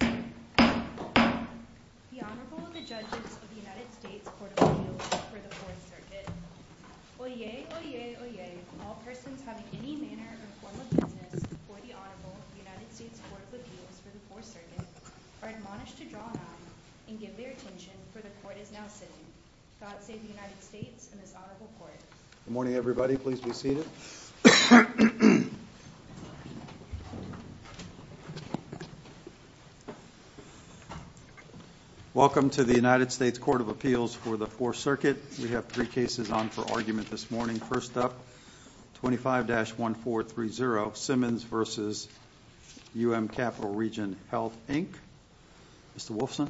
The Honorable and the Judges of the United States Court of Appeals for the Fourth Circuit. Oyez, oyez, oyez, all persons having any manner or form of business before the Honorable of the United States Court of Appeals for the Fourth Circuit are admonished to draw an eye and give their attention, for the Court is now sitting. God save the United States and this Honorable Court. Good morning everybody, please be seated. Welcome to the United States Court of Appeals for the Fourth Circuit. We have three cases on for argument this morning. First up, 25-1430, Simmons v. UM Capital Region Health, Inc. Mr. Wolfson.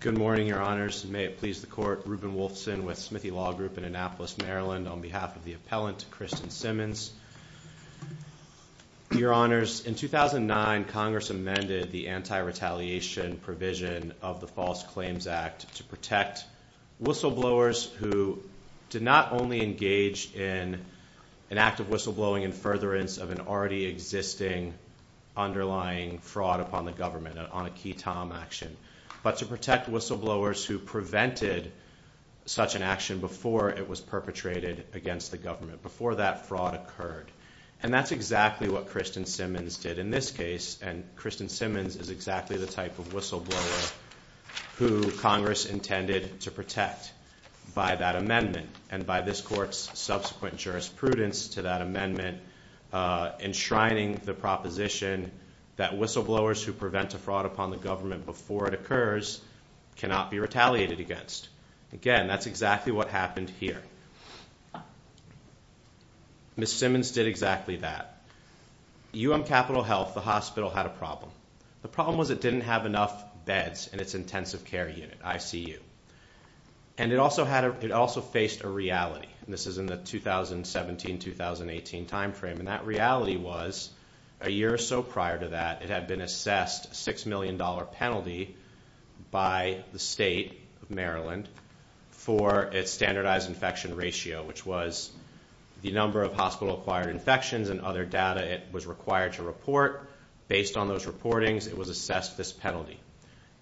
Good morning, Your Honors, and may it please the Court. Reuben Wolfson with Smithy Law Group in Annapolis, Maryland, on behalf of the appellant, Kristen Simmons. Your Honors, in 2009, Congress amended the anti-retaliation provision of the False Claims Act to protect whistleblowers who did not only engage in an act of whistleblowing in furtherance of an already existing underlying fraud upon the government on a key Tom action, but to protect whistleblowers who prevented such an action before it was perpetrated against the government, before that fraud occurred. And that's exactly what Kristen Simmons did in this case, and Kristen Simmons is exactly the type of whistleblower who Congress intended to protect by that amendment and by this Court's subsequent jurisprudence to that amendment, enshrining the proposition that whistleblowers who prevent a fraud upon the government before it occurs cannot be retaliated against. Again, that's exactly what happened here. Ms. Simmons did exactly that. UM Capital Health, the hospital, had a problem. The problem was it didn't have enough beds in its intensive care unit, ICU. And it also faced a reality, and this is in the 2017-2018 time frame, and that reality was a year or so prior to that, it had been assessed a $6 million penalty by the state of Maryland for its standardized infection ratio, which was the number of hospital-acquired infections and other data it was required to report. Based on those reportings, it was assessed this penalty.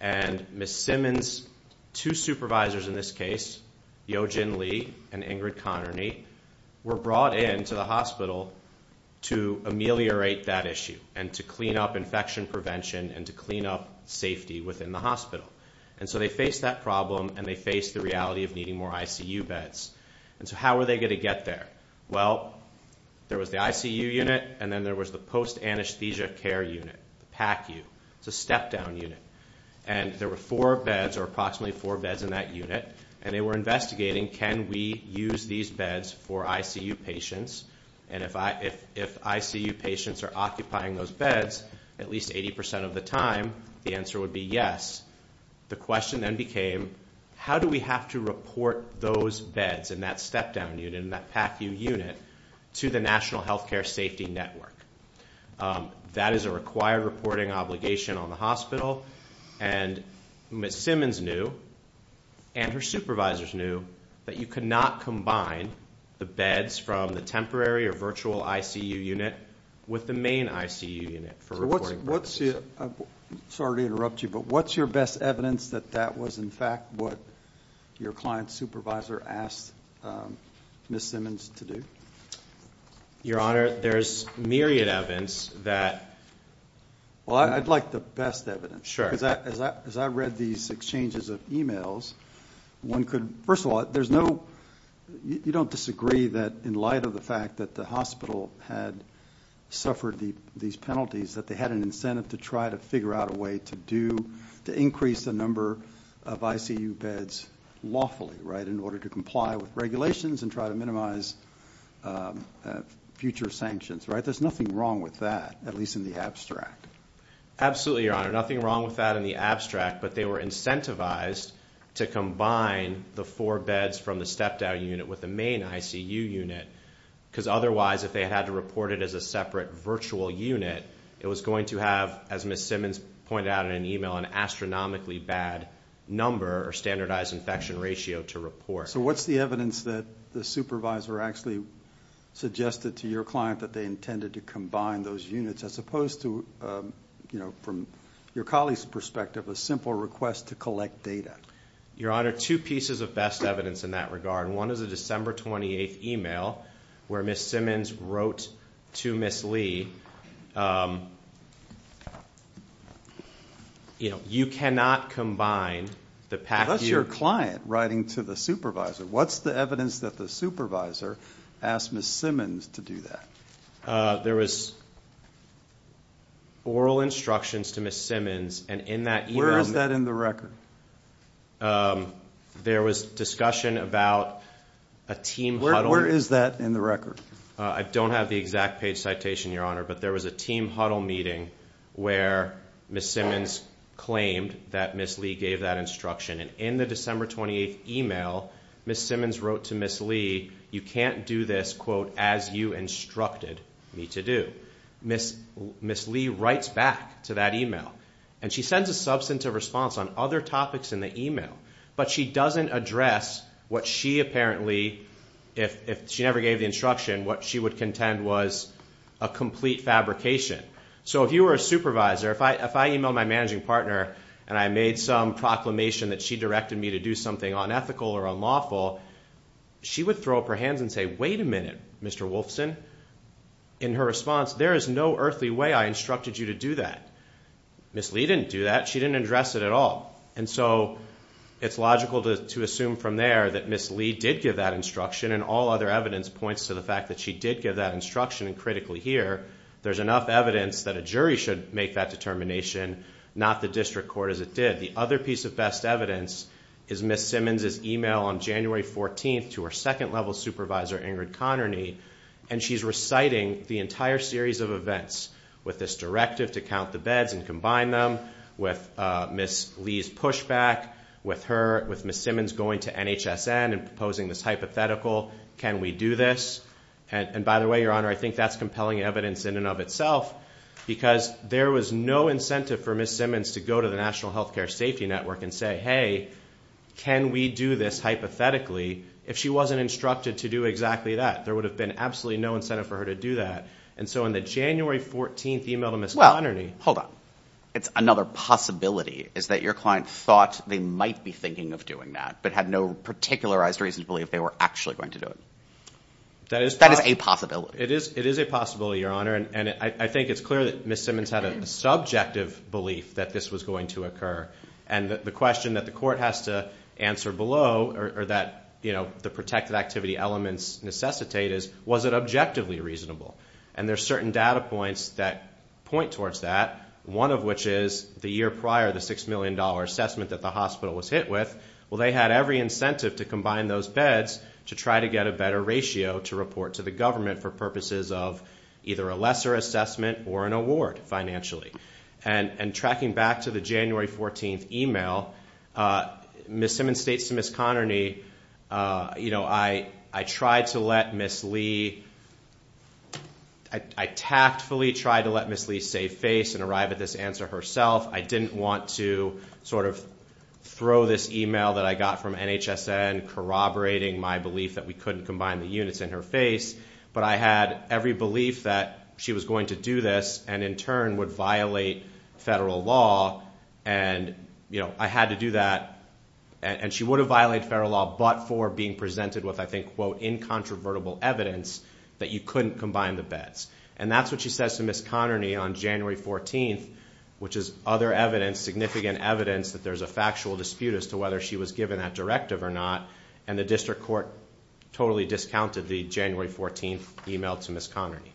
And Ms. Simmons, two supervisors in this case, Yojin Lee and Ingrid Connerney, were brought in to the hospital to ameliorate that issue and to clean up infection prevention and to clean up safety within the hospital. And so they faced that problem, and they faced the reality of needing more ICU beds. And so how were they going to get there? Well, there was the ICU unit, and then there was the post-anesthesia care unit, PACU. It's a step-down unit. And there were four beds or approximately four beds in that unit, and they were investigating can we use these beds for ICU patients. And if ICU patients are occupying those beds at least 80% of the time, the answer would be yes. The question then became how do we have to report those beds in that step-down unit, in that PACU unit, to the National Healthcare Safety Network? That is a required reporting obligation on the hospital, and Ms. Simmons knew and her supervisors knew that you could not combine the beds from the temporary or virtual ICU unit with the main ICU unit for reporting purposes. Sorry to interrupt you, but what's your best evidence that that was, in fact, what your client supervisor asked Ms. Simmons to do? Your Honor, there's myriad evidence that – Well, I'd like the best evidence. Sure. Because as I read these exchanges of e-mails, one could – first of all, there's no – you don't disagree that in light of the fact that the hospital had suffered these penalties that they had an incentive to try to figure out a way to do – to increase the number of ICU beds lawfully, right, in order to comply with regulations and try to minimize future sanctions, right? There's nothing wrong with that, at least in the abstract. Absolutely, Your Honor. Nothing wrong with that in the abstract, but they were incentivized to combine the four beds from the step-down unit with the main ICU unit because otherwise if they had to report it as a separate virtual unit, it was going to have, as Ms. Simmons pointed out in an e-mail, an astronomically bad number or standardized infection ratio to report. So what's the evidence that the supervisor actually suggested to your client that they intended to combine those units as opposed to, you know, from your colleague's perspective, a simple request to collect data? Your Honor, two pieces of best evidence in that regard. One is a December 28th e-mail where Ms. Simmons wrote to Ms. Lee, you know, you cannot combine the package. That's your client writing to the supervisor. What's the evidence that the supervisor asked Ms. Simmons to do that? There was oral instructions to Ms. Simmons, and in that e-mail. Where is that in the record? There was discussion about a team huddle. Where is that in the record? I don't have the exact page citation, Your Honor, but there was a team huddle meeting where Ms. Simmons claimed that Ms. Lee gave that instruction. And in the December 28th e-mail, Ms. Simmons wrote to Ms. Lee, you can't do this, quote, as you instructed me to do. Ms. Lee writes back to that e-mail, and she sends a substantive response on other topics in the e-mail, but she doesn't address what she apparently, if she never gave the instruction, what she would contend was a complete fabrication. So if you were a supervisor, if I e-mailed my managing partner and I made some proclamation that she directed me to do something unethical or unlawful, she would throw up her hands and say, wait a minute, Mr. Wolfson. In her response, there is no earthly way I instructed you to do that. Ms. Lee didn't do that. She didn't address it at all. And so it's logical to assume from there that Ms. Lee did give that instruction and all other evidence points to the fact that she did give that instruction. And critically here, there's enough evidence that a jury should make that determination, not the district court as it did. The other piece of best evidence is Ms. Simmons' e-mail on January 14th to her second-level supervisor, Ingrid Connerney, and she's reciting the entire series of events with this directive to count the beds and combine them with Ms. Lee's pushback, with her, with Ms. Simmons going to NHSN and proposing this hypothetical, can we do this. And by the way, Your Honor, I think that's compelling evidence in and of itself because there was no incentive for Ms. Simmons to go to the National Healthcare Safety Network and say, hey, can we do this hypothetically if she wasn't instructed to do exactly that. There would have been absolutely no incentive for her to do that. And so on the January 14th e-mail to Ms. Connerney. Well, hold on. It's another possibility is that your client thought they might be thinking of doing that but had no particularized reason to believe they were actually going to do it. That is a possibility. It is a possibility, Your Honor. And I think it's clear that Ms. Simmons had a subjective belief that this was going to occur. And the question that the court has to answer below or that the protected activity elements necessitate is, was it objectively reasonable? And there are certain data points that point towards that, one of which is the year prior the $6 million assessment that the hospital was hit with. Well, they had every incentive to combine those beds to try to get a better ratio to report to the government for purposes of either a lesser assessment or an award financially. And tracking back to the January 14th e-mail, Ms. Simmons states to Ms. Connerney, you know, I tried to let Ms. Lee. I tactfully tried to let Ms. Lee save face and arrive at this answer herself. I didn't want to sort of throw this e-mail that I got from NHSN corroborating my belief that we couldn't combine the units in her face, but I had every belief that she was going to do this and in turn would violate federal law. And, you know, I had to do that. And she would have violated federal law but for being presented with, I think, quote, incontrovertible evidence that you couldn't combine the beds. And that's what she says to Ms. Connerney on January 14th, which is other evidence, significant evidence that there's a factual dispute as to whether she was given that directive or not. And the district court totally discounted the January 14th e-mail to Ms. Connerney.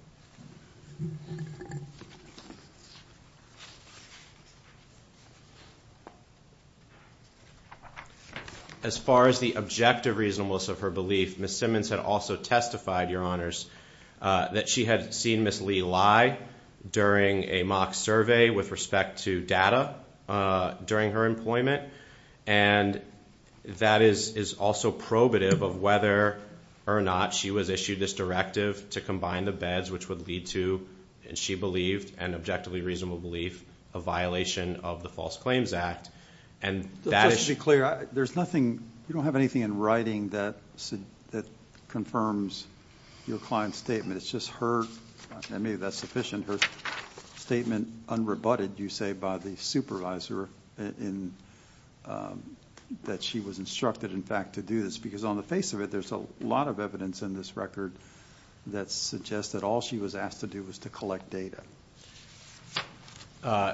As far as the objective reasonableness of her belief, Ms. Simmons had also testified, Your Honors, that she had seen Ms. Lee lie during a mock survey with respect to data during her employment. And that is also probative of whether or not she was issued this directive to combine the beds, which would lead to, she believed, an objectively reasonable belief, a violation of the False Claims Act. And that is... Just to be clear, there's nothing, you don't have anything in writing that confirms your client's statement. It's just her, maybe that's sufficient, her statement unrebutted, you say, by the supervisor that she was instructed, in fact, to do this. Because on the face of it, there's a lot of evidence in this record that suggests that all she was asked to do was to collect data.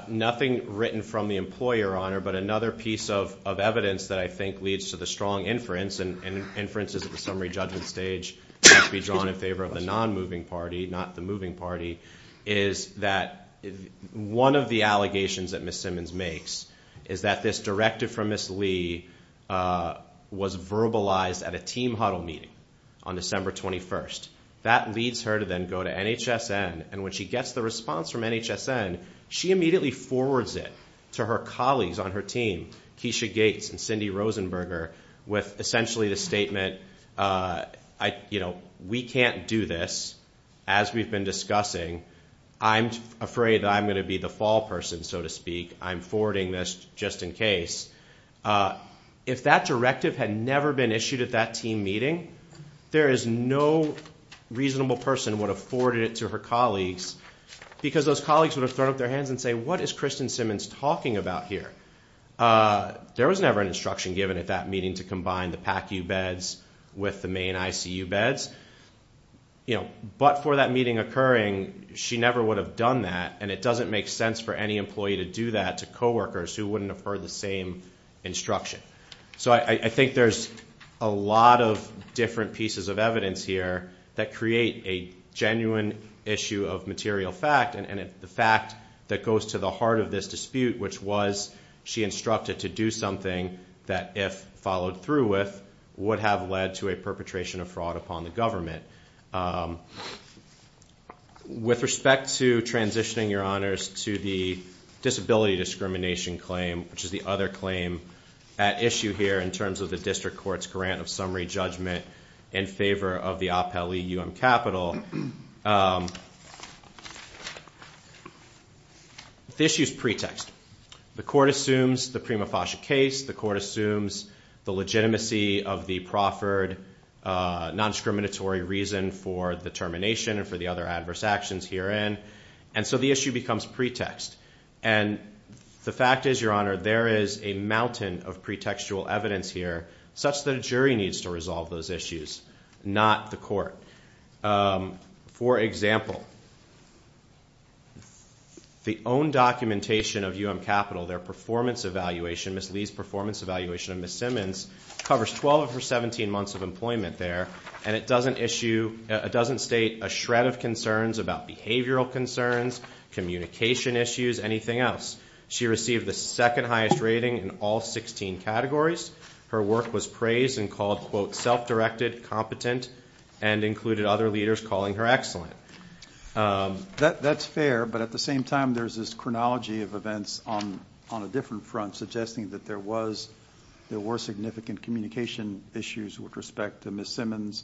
Nothing written from the employer, Your Honor. But another piece of evidence that I think leads to the strong inference, and inferences at the summary judgment stage have to be drawn in favor of the non-moving party, not the moving party, is that one of the allegations that Ms. Simmons makes is that this directive from Ms. Lee was verbalized at a team huddle meeting on December 21st. That leads her to then go to NHSN, and when she gets the response from NHSN, she immediately forwards it to her colleagues on her team, Keisha Gates and Cindy Rosenberger, with essentially the statement, you know, we can't do this. As we've been discussing, I'm afraid that I'm going to be the fall person, so to speak. I'm forwarding this just in case. If that directive had never been issued at that team meeting, there is no reasonable person would have forwarded it to her colleagues because those colleagues would have thrown up their hands and said, what is Kristen Simmons talking about here? There was never an instruction given at that meeting to combine the PACU beds with the main ICU beds. But for that meeting occurring, she never would have done that, and it doesn't make sense for any employee to do that to coworkers who wouldn't have heard the same instruction. So I think there's a lot of different pieces of evidence here that create a genuine issue of material fact, and the fact that goes to the heart of this dispute, which was she instructed to do something that, if followed through with, would have led to a perpetration of fraud upon the government. With respect to transitioning, Your Honors, to the disability discrimination claim, which is the other claim at issue here in terms of the district court's grant of summary judgment in favor of the OPEL-EUM capital, the issue is pretext. The court assumes the Prima Fascia case. The court assumes the legitimacy of the proffered non-discriminatory reason for the termination and for the other adverse actions herein, and so the issue becomes pretext. And the fact is, Your Honor, there is a mountain of pretextual evidence here, such that a jury needs to resolve those issues, not the court. For example, the own documentation of UM Capital, their performance evaluation, Ms. Lee's performance evaluation of Ms. Simmons, covers 12 of her 17 months of employment there, and it doesn't state a shred of concerns about behavioral concerns, communication issues, anything else. She received the second highest rating in all 16 categories. Her work was praised and called, quote, self-directed, competent, and included other leaders calling her excellent. That's fair, but at the same time, there's this chronology of events on a different front, suggesting that there were significant communication issues with respect to Ms. Simmons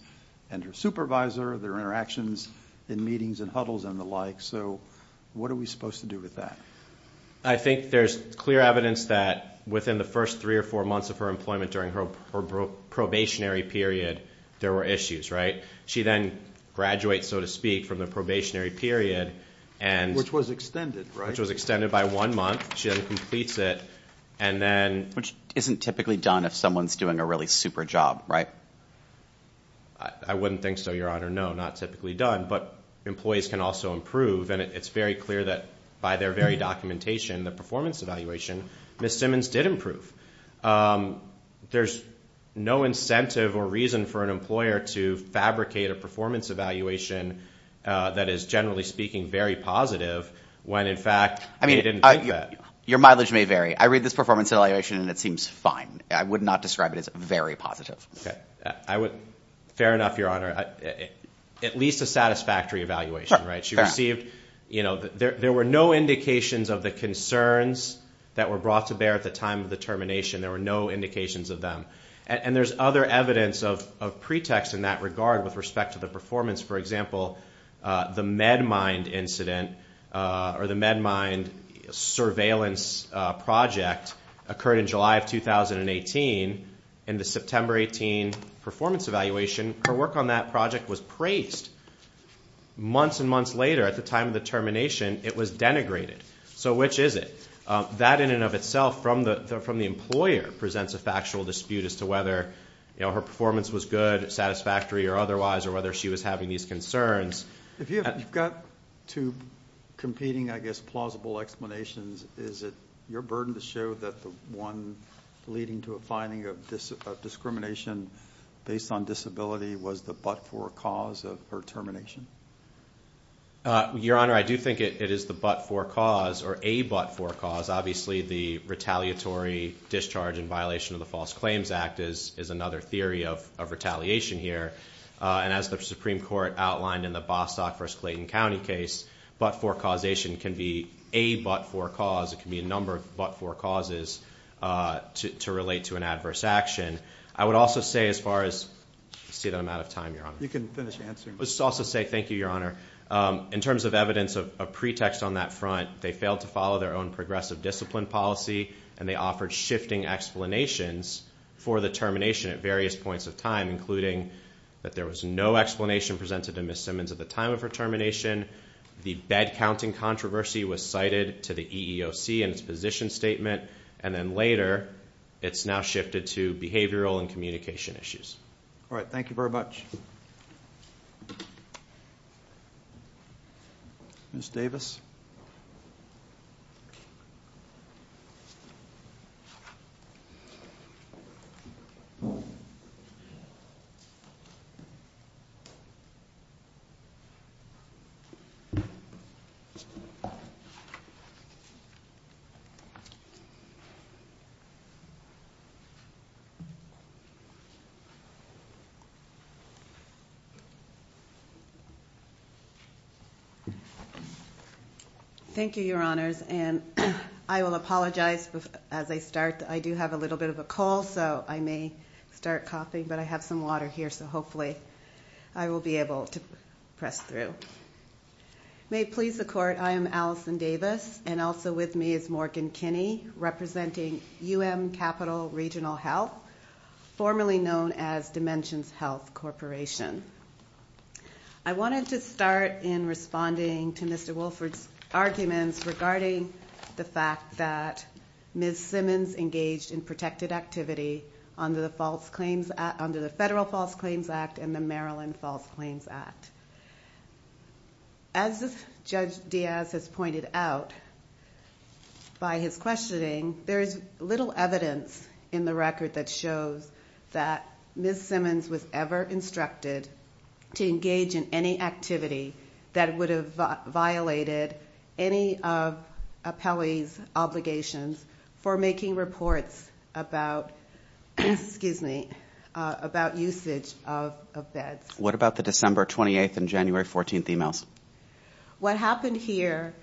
and her supervisor, their interactions in meetings and huddles and the like. So what are we supposed to do with that? I think there's clear evidence that within the first three or four months of her employment during her probationary period, there were issues, right? She then graduates, so to speak, from the probationary period and- Which was extended, right? Which was extended by one month. She then completes it, and then- Which isn't typically done if someone's doing a really super job, right? I wouldn't think so, Your Honor. No, not typically done, but employees can also improve, and it's very clear that by their very documentation, the performance evaluation, Ms. Simmons did improve. There's no incentive or reason for an employer to fabricate a performance evaluation that is, generally speaking, very positive when, in fact, they didn't do that. Your mileage may vary. I read this performance evaluation, and it seems fine. I would not describe it as very positive. Fair enough, Your Honor. At least a satisfactory evaluation, right? There were no indications of the concerns that were brought to bear at the time of the termination. There were no indications of them. And there's other evidence of pretext in that regard with respect to the performance. For example, the MedMind incident or the MedMind surveillance project occurred in July of 2018. In the September 18 performance evaluation, her work on that project was praised. Months and months later, at the time of the termination, it was denigrated. So which is it? That, in and of itself, from the employer, presents a factual dispute as to whether her performance was good, satisfactory or otherwise, or whether she was having these concerns. If you've got two competing, I guess, plausible explanations, is it your burden to show that the one leading to a finding of discrimination based on disability was the but-for cause of her termination? Your Honor, I do think it is the but-for cause or a but-for cause. Obviously, the retaliatory discharge in violation of the False Claims Act is another theory of retaliation here. And as the Supreme Court outlined in the Bostock v. Clayton County case, but-for causation can be a but-for cause. It can be a number of but-for causes to relate to an adverse action. I would also say, as far as, I see that I'm out of time, Your Honor. You can finish answering. Let's also say thank you, Your Honor. In terms of evidence of pretext on that front, they failed to follow their own progressive discipline policy, and they offered shifting explanations for the termination at various points of time, including that there was no explanation presented to Ms. Simmons at the time of her termination, the bed-counting controversy was cited to the EEOC in its position statement, and then later it's now shifted to behavioral and communication issues. All right. Thank you very much. Ms. Davis? Thank you, Your Honors. And I will apologize as I start. I do have a little bit of a cold, so I may start coughing, but I have some water here, so hopefully I will be able to press through. May it please the Court, I am Allison Davis, and also with me is Morgan Kinney representing UM Capital Regional Health, formerly known as Dimensions Health Corporation. I wanted to start in responding to Mr. Wolford's arguments regarding the fact that Ms. Simmons engaged in protected activity under the Federal False Claims Act and the Maryland False Claims Act. As Judge Diaz has pointed out by his questioning, there is little evidence in the record that shows that Ms. Simmons was ever instructed to engage in any activity that would have violated any of appellees' obligations for making reports about usage of beds. What about the December 28th and January 14th emails? What happened here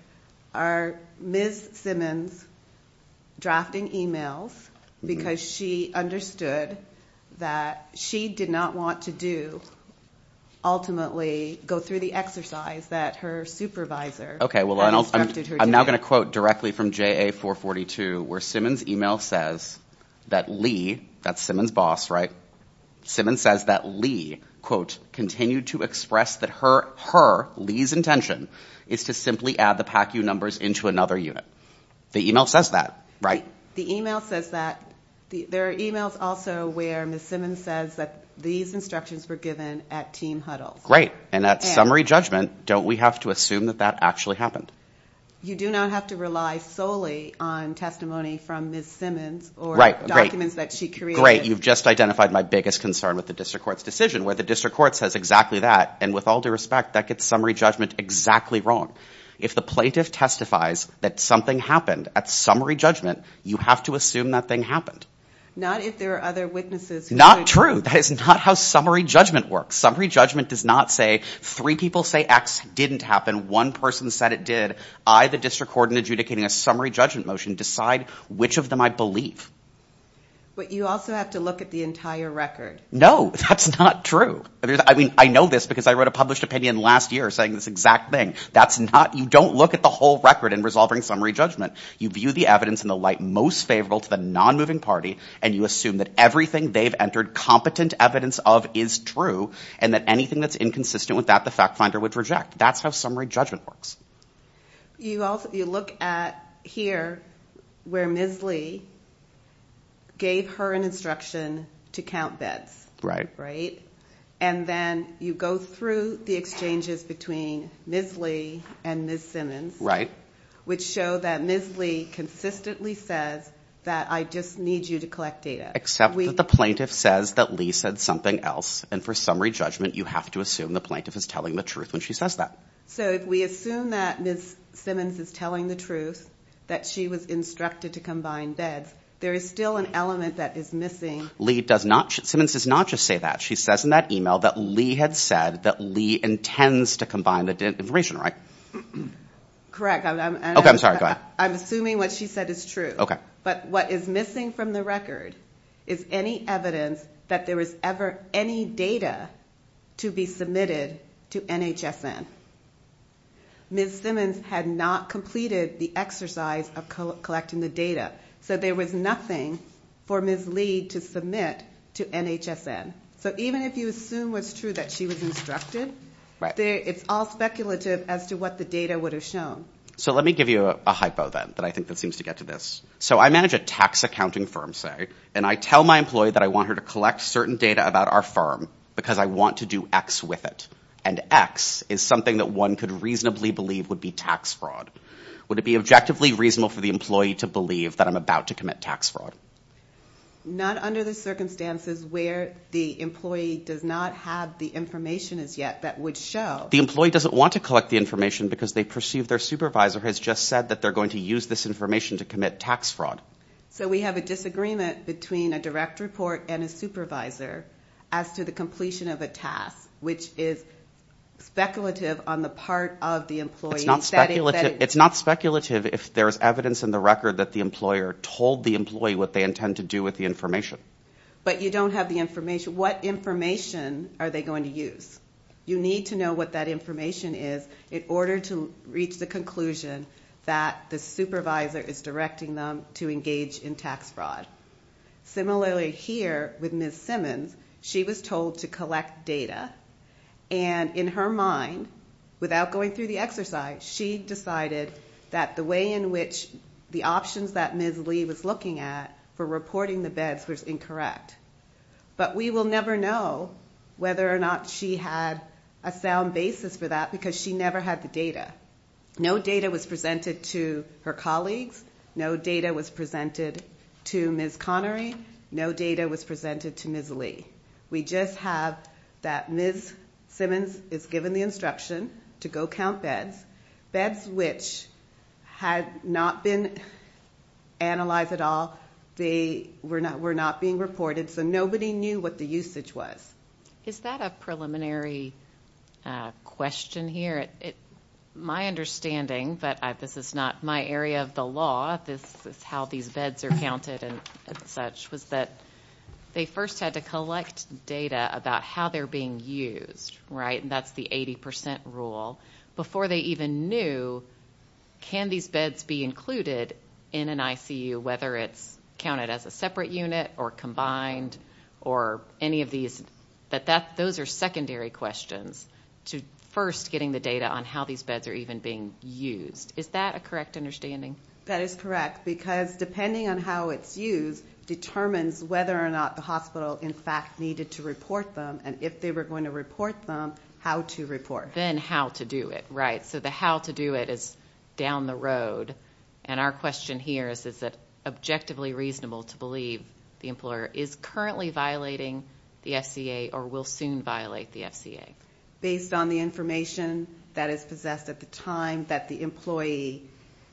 are Ms. Simmons drafting emails because she understood that she did not want to do, ultimately go through the exercise that her supervisor instructed her to do. Well, I'm now going to quote directly from JA442 where Simmons' email says that Lee, that's Simmons' boss, right? Simmons says that Lee, quote, continued to express that her, Lee's intention, is to simply add the PACU numbers into another unit. The email says that, right? The email says that. There are emails also where Ms. Simmons says that these instructions were given at team huddles. Great. And at summary judgment, don't we have to assume that that actually happened? You do not have to rely solely on testimony from Ms. Simmons or documents that she created. You've just identified my biggest concern with the district court's decision, where the district court says exactly that. And with all due respect, that gets summary judgment exactly wrong. If the plaintiff testifies that something happened at summary judgment, you have to assume that thing happened. Not if there are other witnesses. Not true. That is not how summary judgment works. Summary judgment does not say three people say X didn't happen, one person said it did. I, the district court, in adjudicating a summary judgment motion, decide which of them I believe. But you also have to look at the entire record. No, that's not true. I mean, I know this because I wrote a published opinion last year saying this exact thing. That's not, you don't look at the whole record in resolving summary judgment. You view the evidence in the light most favorable to the non-moving party, and you assume that everything they've entered competent evidence of is true, and that anything that's inconsistent with that, the fact finder would reject. That's how summary judgment works. You look at here where Ms. Lee gave her an instruction to count bets. Right. Right? And then you go through the exchanges between Ms. Lee and Ms. Simmons. Right. Which show that Ms. Lee consistently says that I just need you to collect data. Except that the plaintiff says that Lee said something else, and for summary judgment you have to assume the plaintiff is telling the truth when she says that. So if we assume that Ms. Simmons is telling the truth, that she was instructed to combine bets, there is still an element that is missing. Lee does not, Simmons does not just say that. She says in that email that Lee had said that Lee intends to combine the information, right? Correct. Okay, I'm sorry. Go ahead. I'm assuming what she said is true. Okay. But what is missing from the record is any evidence that there was ever any data to be submitted to NHSN. Ms. Simmons had not completed the exercise of collecting the data. So there was nothing for Ms. Lee to submit to NHSN. So even if you assume was true that she was instructed, it's all speculative as to what the data would have shown. So let me give you a hypo then that I think seems to get to this. So I manage a tax accounting firm, say, and I tell my employee that I want her to collect certain data about our firm because I want to do X with it. And X is something that one could reasonably believe would be tax fraud. Would it be objectively reasonable for the employee to believe that I'm about to commit tax fraud? Not under the circumstances where the employee does not have the information as yet that would show. The employee doesn't want to collect the information because they perceive their supervisor has just said that they're going to use this information to commit tax fraud. So we have a disagreement between a direct report and a supervisor as to the completion of a task, which is speculative on the part of the employee. It's not speculative if there is evidence in the record that the employer told the employee what they intend to do with the information. But you don't have the information. What information are they going to use? You need to know what that information is in order to reach the conclusion that the supervisor is directing them to engage in tax fraud. Similarly here with Ms. Simmons, she was told to collect data. And in her mind, without going through the exercise, she decided that the way in which the options that Ms. Lee was looking at for reporting the beds was incorrect. But we will never know whether or not she had a sound basis for that because she never had the data. No data was presented to her colleagues. No data was presented to Ms. Connery. No data was presented to Ms. Lee. We just have that Ms. Simmons is given the instruction to go count beds, beds which had not been analyzed at all. They were not being reported, so nobody knew what the usage was. Is that a preliminary question here? My understanding, but this is not my area of the law, this is how these beds are counted and such, was that they first had to collect data about how they're being used, right? That's the 80% rule. Before they even knew, can these beds be included in an ICU, whether it's counted as a separate unit or combined or any of these? Those are secondary questions to first getting the data on how these beds are even being used. Is that a correct understanding? That is correct because depending on how it's used determines whether or not the hospital, in fact, needed to report them. And if they were going to report them, how to report. Then how to do it, right? So the how to do it is down the road. And our question here is, is it objectively reasonable to believe the employer is currently violating the FCA or will soon violate the FCA? Based on the information that is possessed at the time that the employee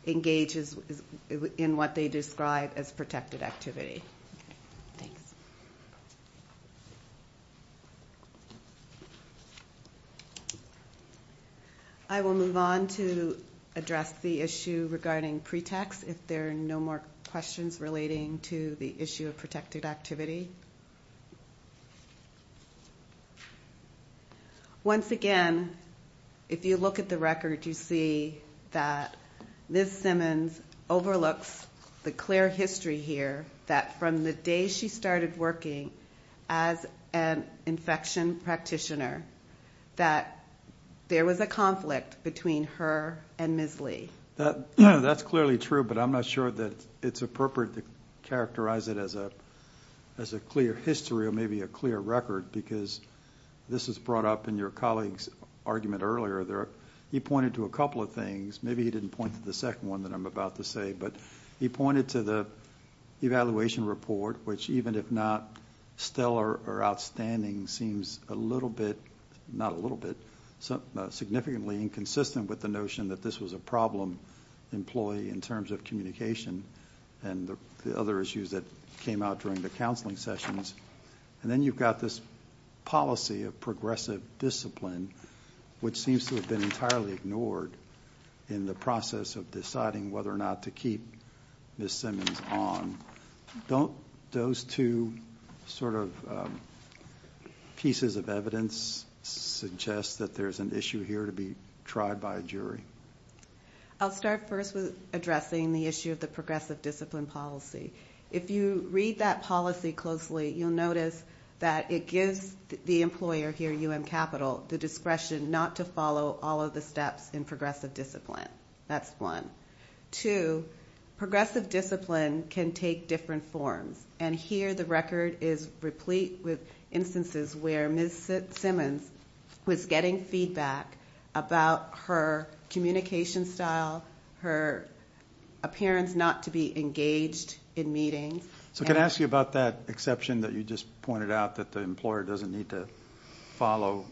engages in what they describe as protected activity. Thanks. I will move on to address the issue regarding pre-tax, if there are no more questions relating to the issue of protected activity. Once again, if you look at the record, you see that Ms. Simmons overlooks the clear history here that from the day she started working as an infection practitioner that there was a conflict between her and Ms. Lee. That's clearly true, but I'm not sure that it's appropriate to characterize it as a clear history or maybe a clear record because this is brought up in your colleague's argument earlier. He pointed to a couple of things. Maybe he didn't point to the second one that I'm about to say, but he pointed to the evaluation report, which even if not stellar or outstanding, seems a little bit, not a little bit, significantly inconsistent with the notion that this was a problem employee in terms of communication and the other issues that came out during the counseling sessions. Then you've got this policy of progressive discipline, which seems to have been entirely ignored in the process of deciding whether or not to keep Ms. Simmons on. Don't those two sort of pieces of evidence suggest that there's an issue here to be tried by a jury? I'll start first with addressing the issue of the progressive discipline policy. If you read that policy closely, you'll notice that it gives the employer here at UM Capital the discretion not to follow all of the steps in progressive discipline. That's one. Two, progressive discipline can take different forms, and here the record is replete with instances where Ms. Simmons was getting feedback about her communication style, her appearance not to be engaged in meetings. So can I ask you about that exception that you just pointed out that the employer doesn't need to follow?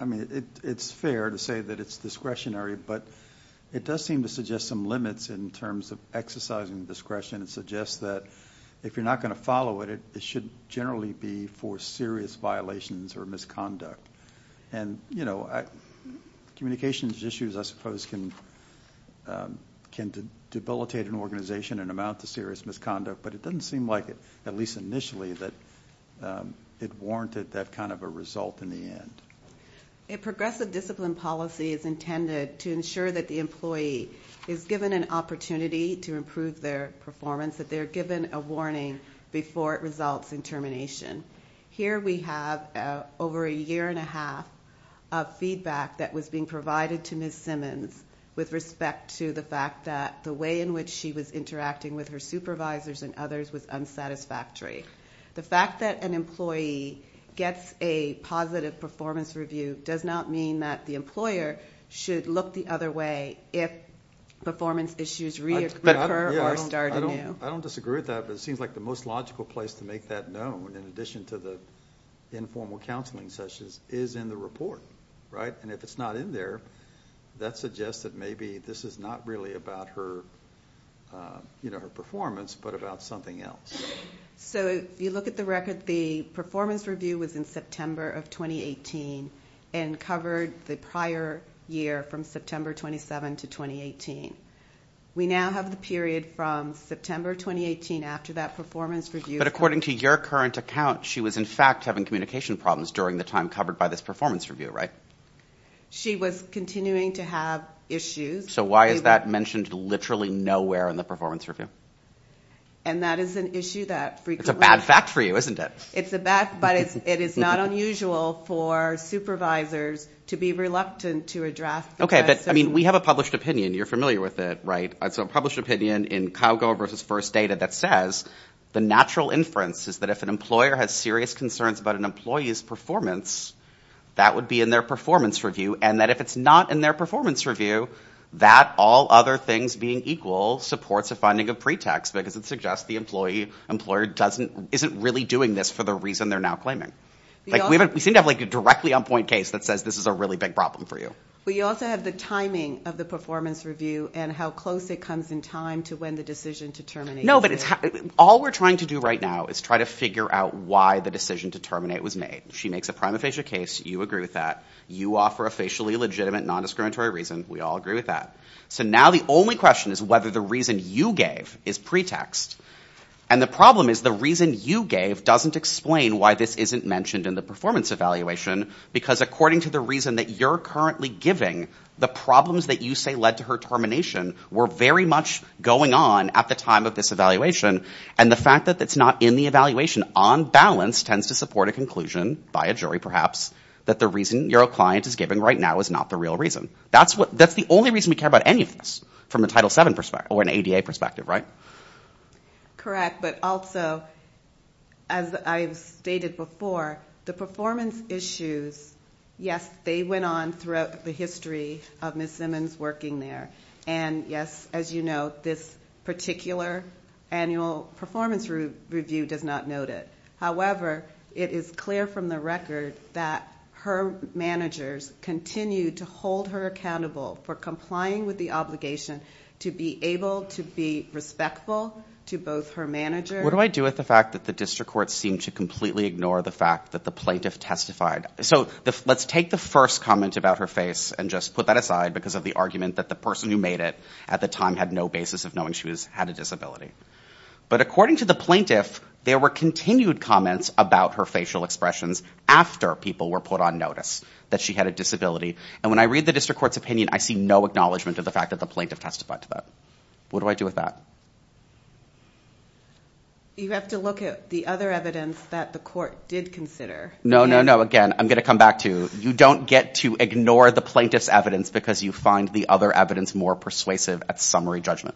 I mean, it's fair to say that it's discretionary, but it does seem to suggest some limits in terms of exercising discretion. It suggests that if you're not going to follow it, it should generally be for serious violations or misconduct. And communications issues, I suppose, can debilitate an organization and amount to serious misconduct, but it doesn't seem like it, at least initially, that it warranted that kind of a result in the end. A progressive discipline policy is intended to ensure that the employee is given an opportunity to improve their performance, that they're given a warning before it results in termination. Here we have over a year and a half of feedback that was being provided to Ms. Simmons with respect to the fact that the way in which she was interacting with her supervisors and others was unsatisfactory. The fact that an employee gets a positive performance review does not mean that the employer should look the other way if performance issues reoccur or start anew. I don't disagree with that, but it seems like the most logical place to make that known, in addition to the informal counseling sessions, is in the report, right? And if it's not in there, that suggests that maybe this is not really about her performance but about something else. So if you look at the record, the performance review was in September of 2018 and covered the prior year from September 27 to 2018. We now have the period from September 2018 after that performance review. But according to your current account, she was, in fact, having communication problems during the time covered by this performance review, right? She was continuing to have issues. So why is that mentioned literally nowhere in the performance review? And that is an issue that frequently – It's a bad fact for you, isn't it? It's a bad – but it is not unusual for supervisors to be reluctant to address – Okay, but we have a published opinion. You're familiar with it, right? It's a published opinion in Calgo versus First Data that says the natural inference is that if an employer has serious concerns about an employee's performance, that would be in their performance review, and that if it's not in their performance review, that, all other things being equal, supports a finding of pretext because it suggests the employer isn't really doing this for the reason they're now claiming. We seem to have a directly on-point case that says this is a really big problem for you. We also have the timing of the performance review and how close it comes in time to when the decision to terminate was made. No, but it's – all we're trying to do right now is try to figure out why the decision to terminate was made. She makes a prima facie case. You agree with that. You offer a facially legitimate, non-discriminatory reason. We all agree with that. So now the only question is whether the reason you gave is pretext. And the problem is the reason you gave doesn't explain why this isn't mentioned in the performance evaluation because according to the reason that you're currently giving, the problems that you say led to her termination were very much going on at the time of this evaluation. And the fact that it's not in the evaluation, on balance, tends to support a conclusion, by a jury perhaps, that the reason your client is giving right now is not the real reason. That's the only reason we care about any of this from a Title VII or an ADA perspective, right? Correct. But also, as I've stated before, the performance issues, yes, they went on throughout the history of Ms. Simmons working there. And, yes, as you know, this particular annual performance review does not note it. However, it is clear from the record that her managers continue to hold her accountable for complying with the obligation to be able to be respectful to both her managers... What do I do with the fact that the district court seemed to completely ignore the fact that the plaintiff testified? So let's take the first comment about her face and just put that aside because of the argument that the person who made it at the time had no basis of knowing she had a disability. But according to the plaintiff, there were continued comments about her facial expressions after people were put on notice that she had a disability. And when I read the district court's opinion, I see no acknowledgement of the fact that the plaintiff testified to that. What do I do with that? You have to look at the other evidence that the court did consider. No, no, no. Again, I'm going to come back to you don't get to ignore the plaintiff's evidence because you find the other evidence more persuasive at summary judgment.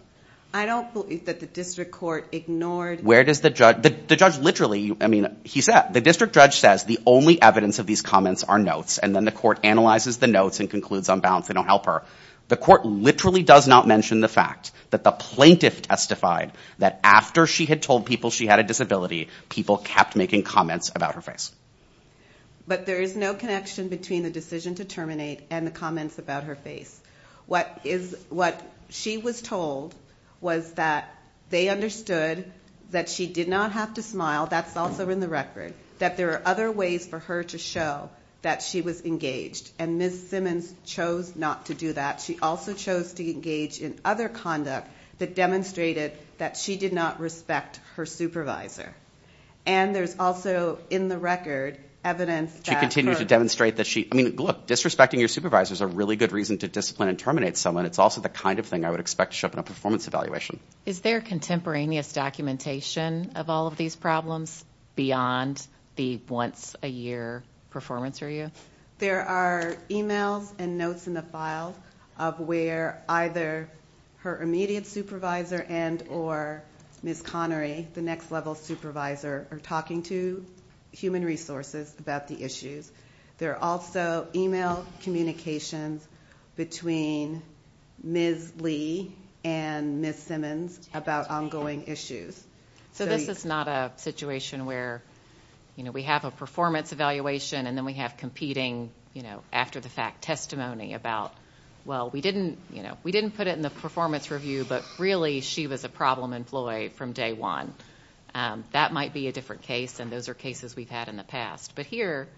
I don't believe that the district court ignored... Where does the judge... The judge literally, I mean, he said, the district judge says the only evidence of these comments are notes and then the court analyzes the notes and concludes on balance they don't help her. The court literally does not mention the fact that the plaintiff testified that after she had told people she had a disability, people kept making comments about her face. But there is no connection between the decision to terminate and the comments about her face. What she was told was that they understood that she did not have to smile. That's also in the record that there are other ways for her to show that she was engaged. And Ms. Simmons chose not to do that. She also chose to engage in other conduct that demonstrated that she did not respect her supervisor. And there's also in the record evidence that... She continued to demonstrate that she... I mean, look, disrespecting your supervisor is a really good reason to discipline and terminate someone. It's also the kind of thing I would expect to show up in a performance evaluation. Is there contemporaneous documentation of all of these problems beyond the once-a-year performance review? There are emails and notes in the file of where either her immediate supervisor and or Ms. Connery, the next-level supervisor, are talking to human resources about the issues. There are also email communications between Ms. Lee and Ms. Simmons about ongoing issues. So this is not a situation where we have a performance evaluation and then we have competing after-the-fact testimony about, well, we didn't put it in the performance review, but really she was a problem employee from day one. That might be a different case, and those are cases we've had in the past. But here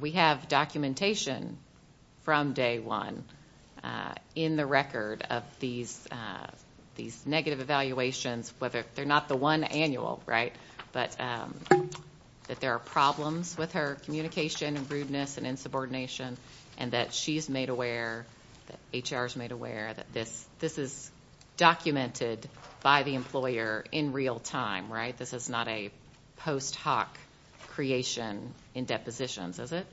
we have documentation from day one in the record of these negative evaluations, whether they're not the one annual, right, but that there are problems with her communication and rudeness and insubordination and that she's made aware, that HR's made aware, that this is documented by the employer in real time, right? This is not a post-hoc creation in depositions, is it?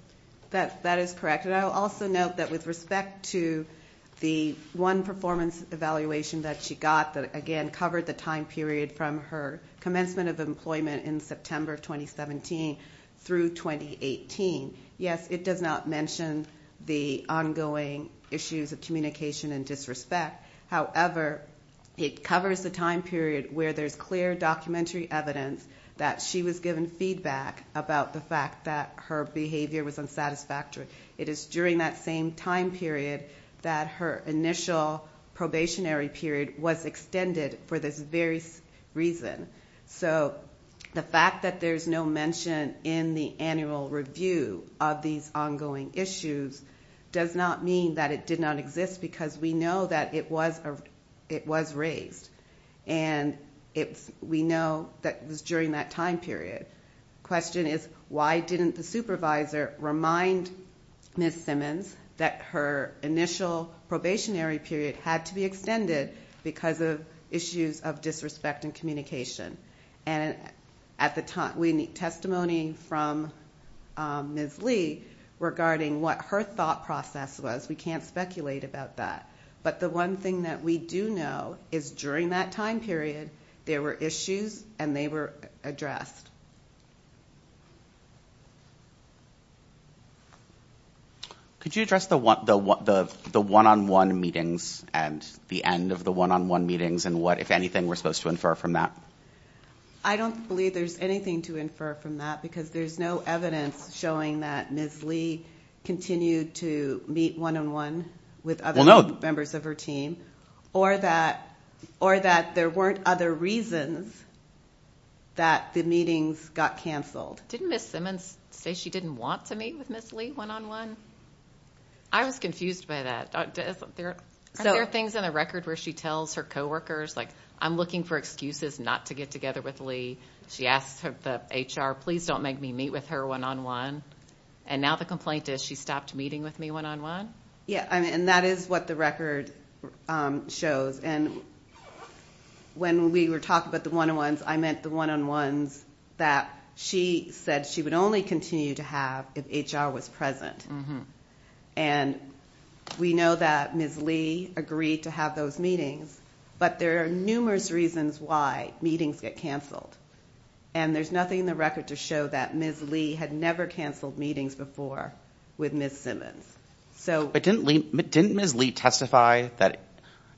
That is correct. And I'll also note that with respect to the one performance evaluation that she got that, again, covered the time period from her commencement of employment in September 2017 through 2018, yes, it does not mention the ongoing issues of communication and disrespect. However, it covers the time period where there's clear documentary evidence that she was given feedback about the fact that her behavior was unsatisfactory. It is during that same time period that her initial probationary period was extended for this very reason. So the fact that there's no mention in the annual review of these ongoing issues does not mean that it did not exist because we know that it was raised and we know that it was during that time period. The question is, why didn't the supervisor remind Ms. Simmons that her initial probationary period had to be extended because of issues of disrespect in communication? We need testimony from Ms. Lee regarding what her thought process was. We can't speculate about that. But the one thing that we do know is during that time period, there were issues and they were addressed. Could you address the one-on-one meetings and the end of the one-on-one meetings and what, if anything, we're supposed to infer from that? I don't believe there's anything to infer from that because there's no evidence showing that Ms. Lee continued to meet one-on-one with other members of her team or that there weren't other reasons that the meetings got canceled. Didn't Ms. Simmons say she didn't want to meet with Ms. Lee one-on-one? I was confused by that. Aren't there things in the record where she tells her coworkers, like, I'm looking for excuses not to get together with Lee? She asks the HR, please don't make me meet with her one-on-one. And now the complaint is she stopped meeting with me one-on-one? Yeah, and that is what the record shows. And when we were talking about the one-on-ones, I meant the one-on-ones that she said she would only continue to have if HR was present. And we know that Ms. Lee agreed to have those meetings, but there are numerous reasons why meetings get canceled. And there's nothing in the record to show that Ms. Lee had never canceled meetings before with Ms. Simmons. But didn't Ms. Lee testify that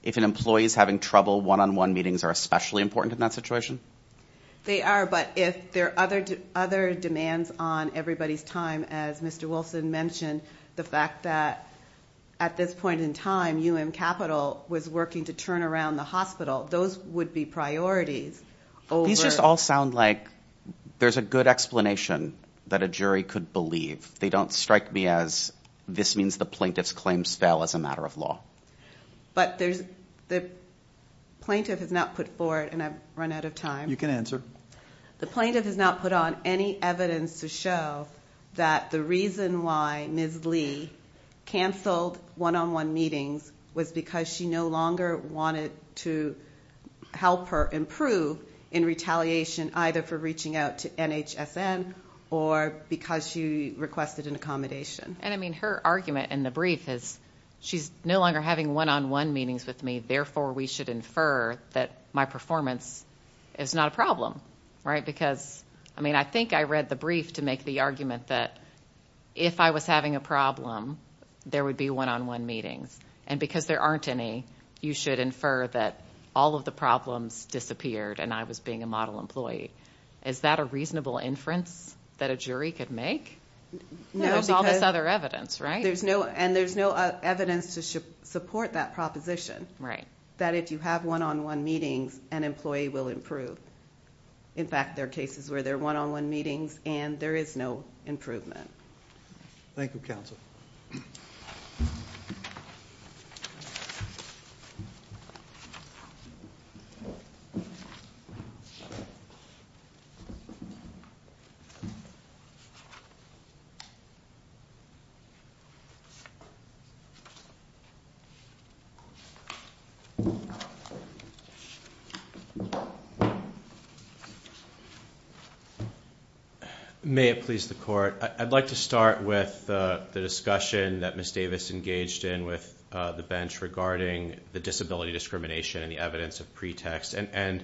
if an employee is having trouble, one-on-one meetings are especially important in that situation? They are, but if there are other demands on everybody's time, as Mr. Wilson mentioned, the fact that at this point in time, UM Capital was working to turn around the hospital, those would be priorities. These just all sound like there's a good explanation that a jury could believe. They don't strike me as this means the plaintiff's claims fell as a matter of law. But the plaintiff has not put forward, and I've run out of time. You can answer. The plaintiff has not put on any evidence to show that the reason why Ms. Lee canceled one-on-one meetings was because she no longer wanted to help her improve in retaliation, either for reaching out to NHSN or because she requested an accommodation. And, I mean, her argument in the brief is she's no longer having one-on-one meetings with me, and therefore we should infer that my performance is not a problem, right? Because, I mean, I think I read the brief to make the argument that if I was having a problem, there would be one-on-one meetings. And because there aren't any, you should infer that all of the problems disappeared and I was being a model employee. Is that a reasonable inference that a jury could make? There's all this other evidence, right? And there's no evidence to support that proposition. That if you have one-on-one meetings, an employee will improve. In fact, there are cases where there are one-on-one meetings and there is no improvement. Thank you, Counsel. Thank you. May it please the Court. I'd like to start with the discussion that Ms. Davis engaged in with the bench regarding the disability discrimination and the evidence of pretext. And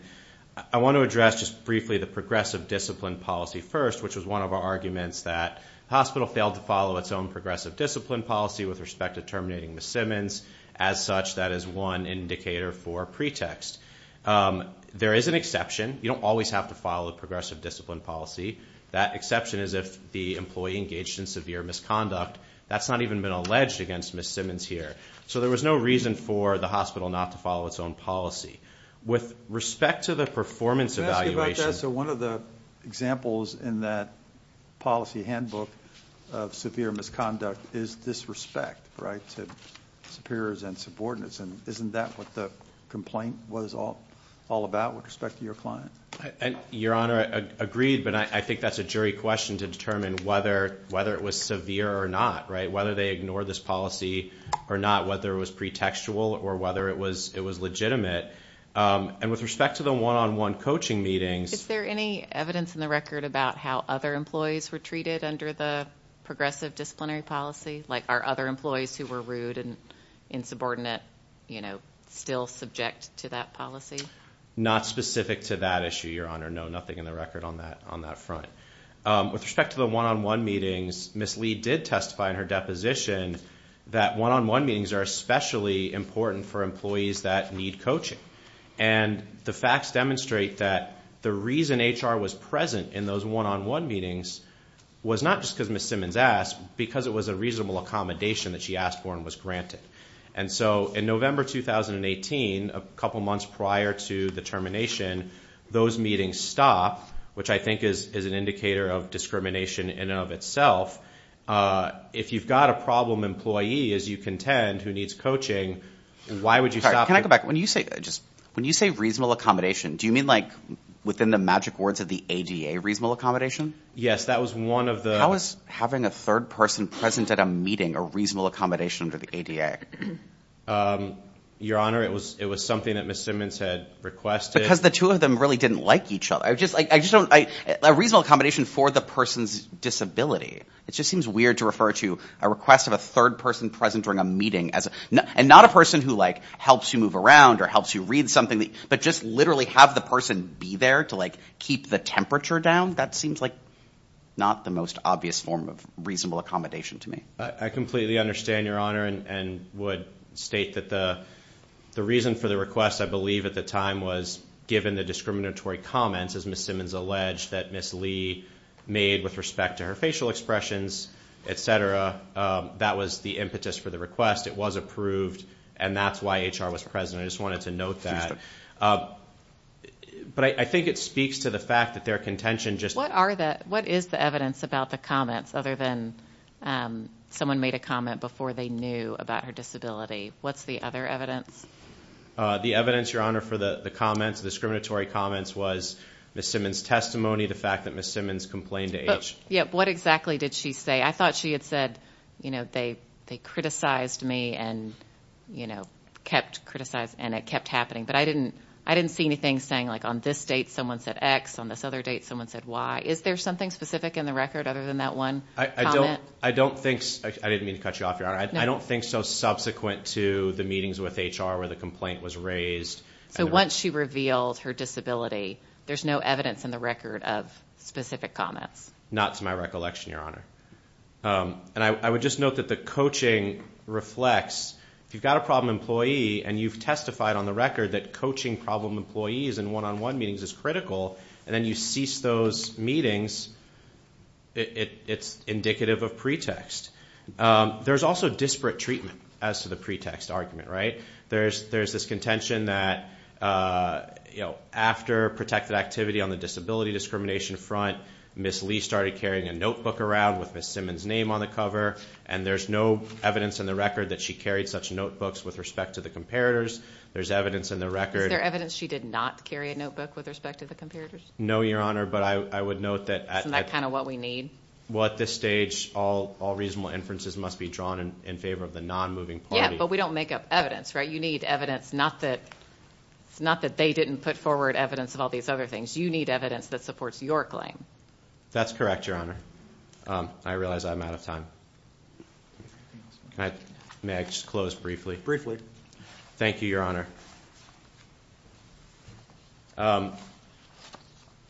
I want to address just briefly the progressive discipline policy first, which was one of our arguments that the hospital failed to follow its own progressive discipline policy with respect to terminating Ms. Simmons. As such, that is one indicator for pretext. There is an exception. You don't always have to follow a progressive discipline policy. That exception is if the employee engaged in severe misconduct. That's not even been alleged against Ms. Simmons here. So there was no reason for the hospital not to follow its own policy. With respect to the performance evaluation. So one of the examples in that policy handbook of severe misconduct is disrespect, right, to superiors and subordinates. And isn't that what the complaint was all about with respect to your client? Your Honor, I agree, but I think that's a jury question to determine whether it was severe or not, right, whether they ignored this policy or not, whether it was pretextual or whether it was legitimate. And with respect to the one-on-one coaching meetings. Is there any evidence in the record about how other employees were treated under the progressive disciplinary policy? Like are other employees who were rude and insubordinate, you know, still subject to that policy? Not specific to that issue, Your Honor. No, nothing in the record on that front. With respect to the one-on-one meetings, Ms. Lee did testify in her deposition that one-on-one meetings are especially important for employees that need coaching. And the facts demonstrate that the reason HR was present in those one-on-one meetings was not just because Ms. Simmons asked, because it was a reasonable accommodation that she asked for and was granted. And so in November 2018, a couple months prior to the termination, those meetings stopped, which I think is an indicator of discrimination in and of itself. If you've got a problem employee, as you contend, who needs coaching, why would you stop? Can I go back? When you say reasonable accommodation, do you mean like within the magic words of the ADA, reasonable accommodation? Yes, that was one of the. How is having a third person present at a meeting a reasonable accommodation under the ADA? Your Honor, it was something that Ms. Simmons had requested. Because the two of them really didn't like each other. I just don't—a reasonable accommodation for the person's disability. It just seems weird to refer to a request of a third person present during a meeting as— and not a person who like helps you move around or helps you read something, but just literally have the person be there to like keep the temperature down. That seems like not the most obvious form of reasonable accommodation to me. I completely understand, Your Honor, and would state that the reason for the request, I believe, at the time was given the discriminatory comments, as Ms. Simmons alleged, that Ms. Lee made with respect to her facial expressions, et cetera. That was the impetus for the request. It was approved, and that's why HR was present. I just wanted to note that. But I think it speaks to the fact that their contention just— What is the evidence about the comments, other than someone made a comment before they knew about her disability? What's the other evidence? The evidence, Your Honor, for the comments, the discriminatory comments, was Ms. Simmons' testimony, the fact that Ms. Simmons complained to HR. What exactly did she say? I thought she had said, you know, they criticized me and, you know, kept criticizing, and it kept happening. But I didn't see anything saying, like, on this date someone said X, on this other date someone said Y. Is there something specific in the record other than that one comment? I don't think—I didn't mean to cut you off, Your Honor. I don't think so subsequent to the meetings with HR where the complaint was raised. So once she revealed her disability, there's no evidence in the record of specific comments? Not to my recollection, Your Honor. And I would just note that the coaching reflects, if you've got a problem employee and you've testified on the record that coaching problem employees in one-on-one meetings is critical and then you cease those meetings, it's indicative of pretext. There's also disparate treatment as to the pretext argument, right? There's this contention that, you know, after protected activity on the disability discrimination front, Ms. Lee started carrying a notebook around with Ms. Simmons' name on the cover, and there's no evidence in the record that she carried such notebooks with respect to the comparators. There's evidence in the record— Is there evidence she did not carry a notebook with respect to the comparators? No, Your Honor, but I would note that— Isn't that kind of what we need? Well, at this stage, all reasonable inferences must be drawn in favor of the non-moving party. Yeah, but we don't make up evidence, right? You need evidence, not that they didn't put forward evidence of all these other things. You need evidence that supports your claim. That's correct, Your Honor. I realize I'm out of time. May I just close briefly? Briefly. Thank you, Your Honor.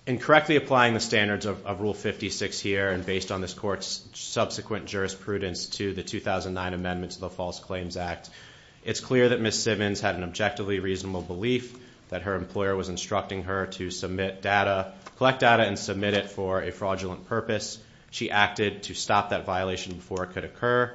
In correctly applying the standards of Rule 56 here, and based on this Court's subsequent jurisprudence to the 2009 amendments of the False Claims Act, it's clear that Ms. Simmons had an objectively reasonable belief that her employer was instructing her to submit data, collect data, and submit it for a fraudulent purpose. She acted to stop that violation before it could occur,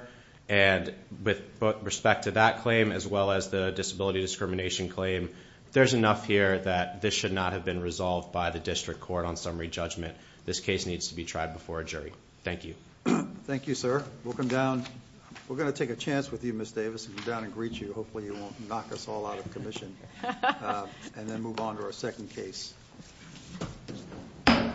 and with respect to that claim as well as the disability discrimination claim, there's enough here that this should not have been resolved by the District Court on summary judgment. This case needs to be tried before a jury. Thank you. Thank you, sir. We'll come down. We're going to take a chance with you, Ms. Davis, and come down and greet you. Hopefully, you won't knock us all out of commission and then move on to our second case. Thank you.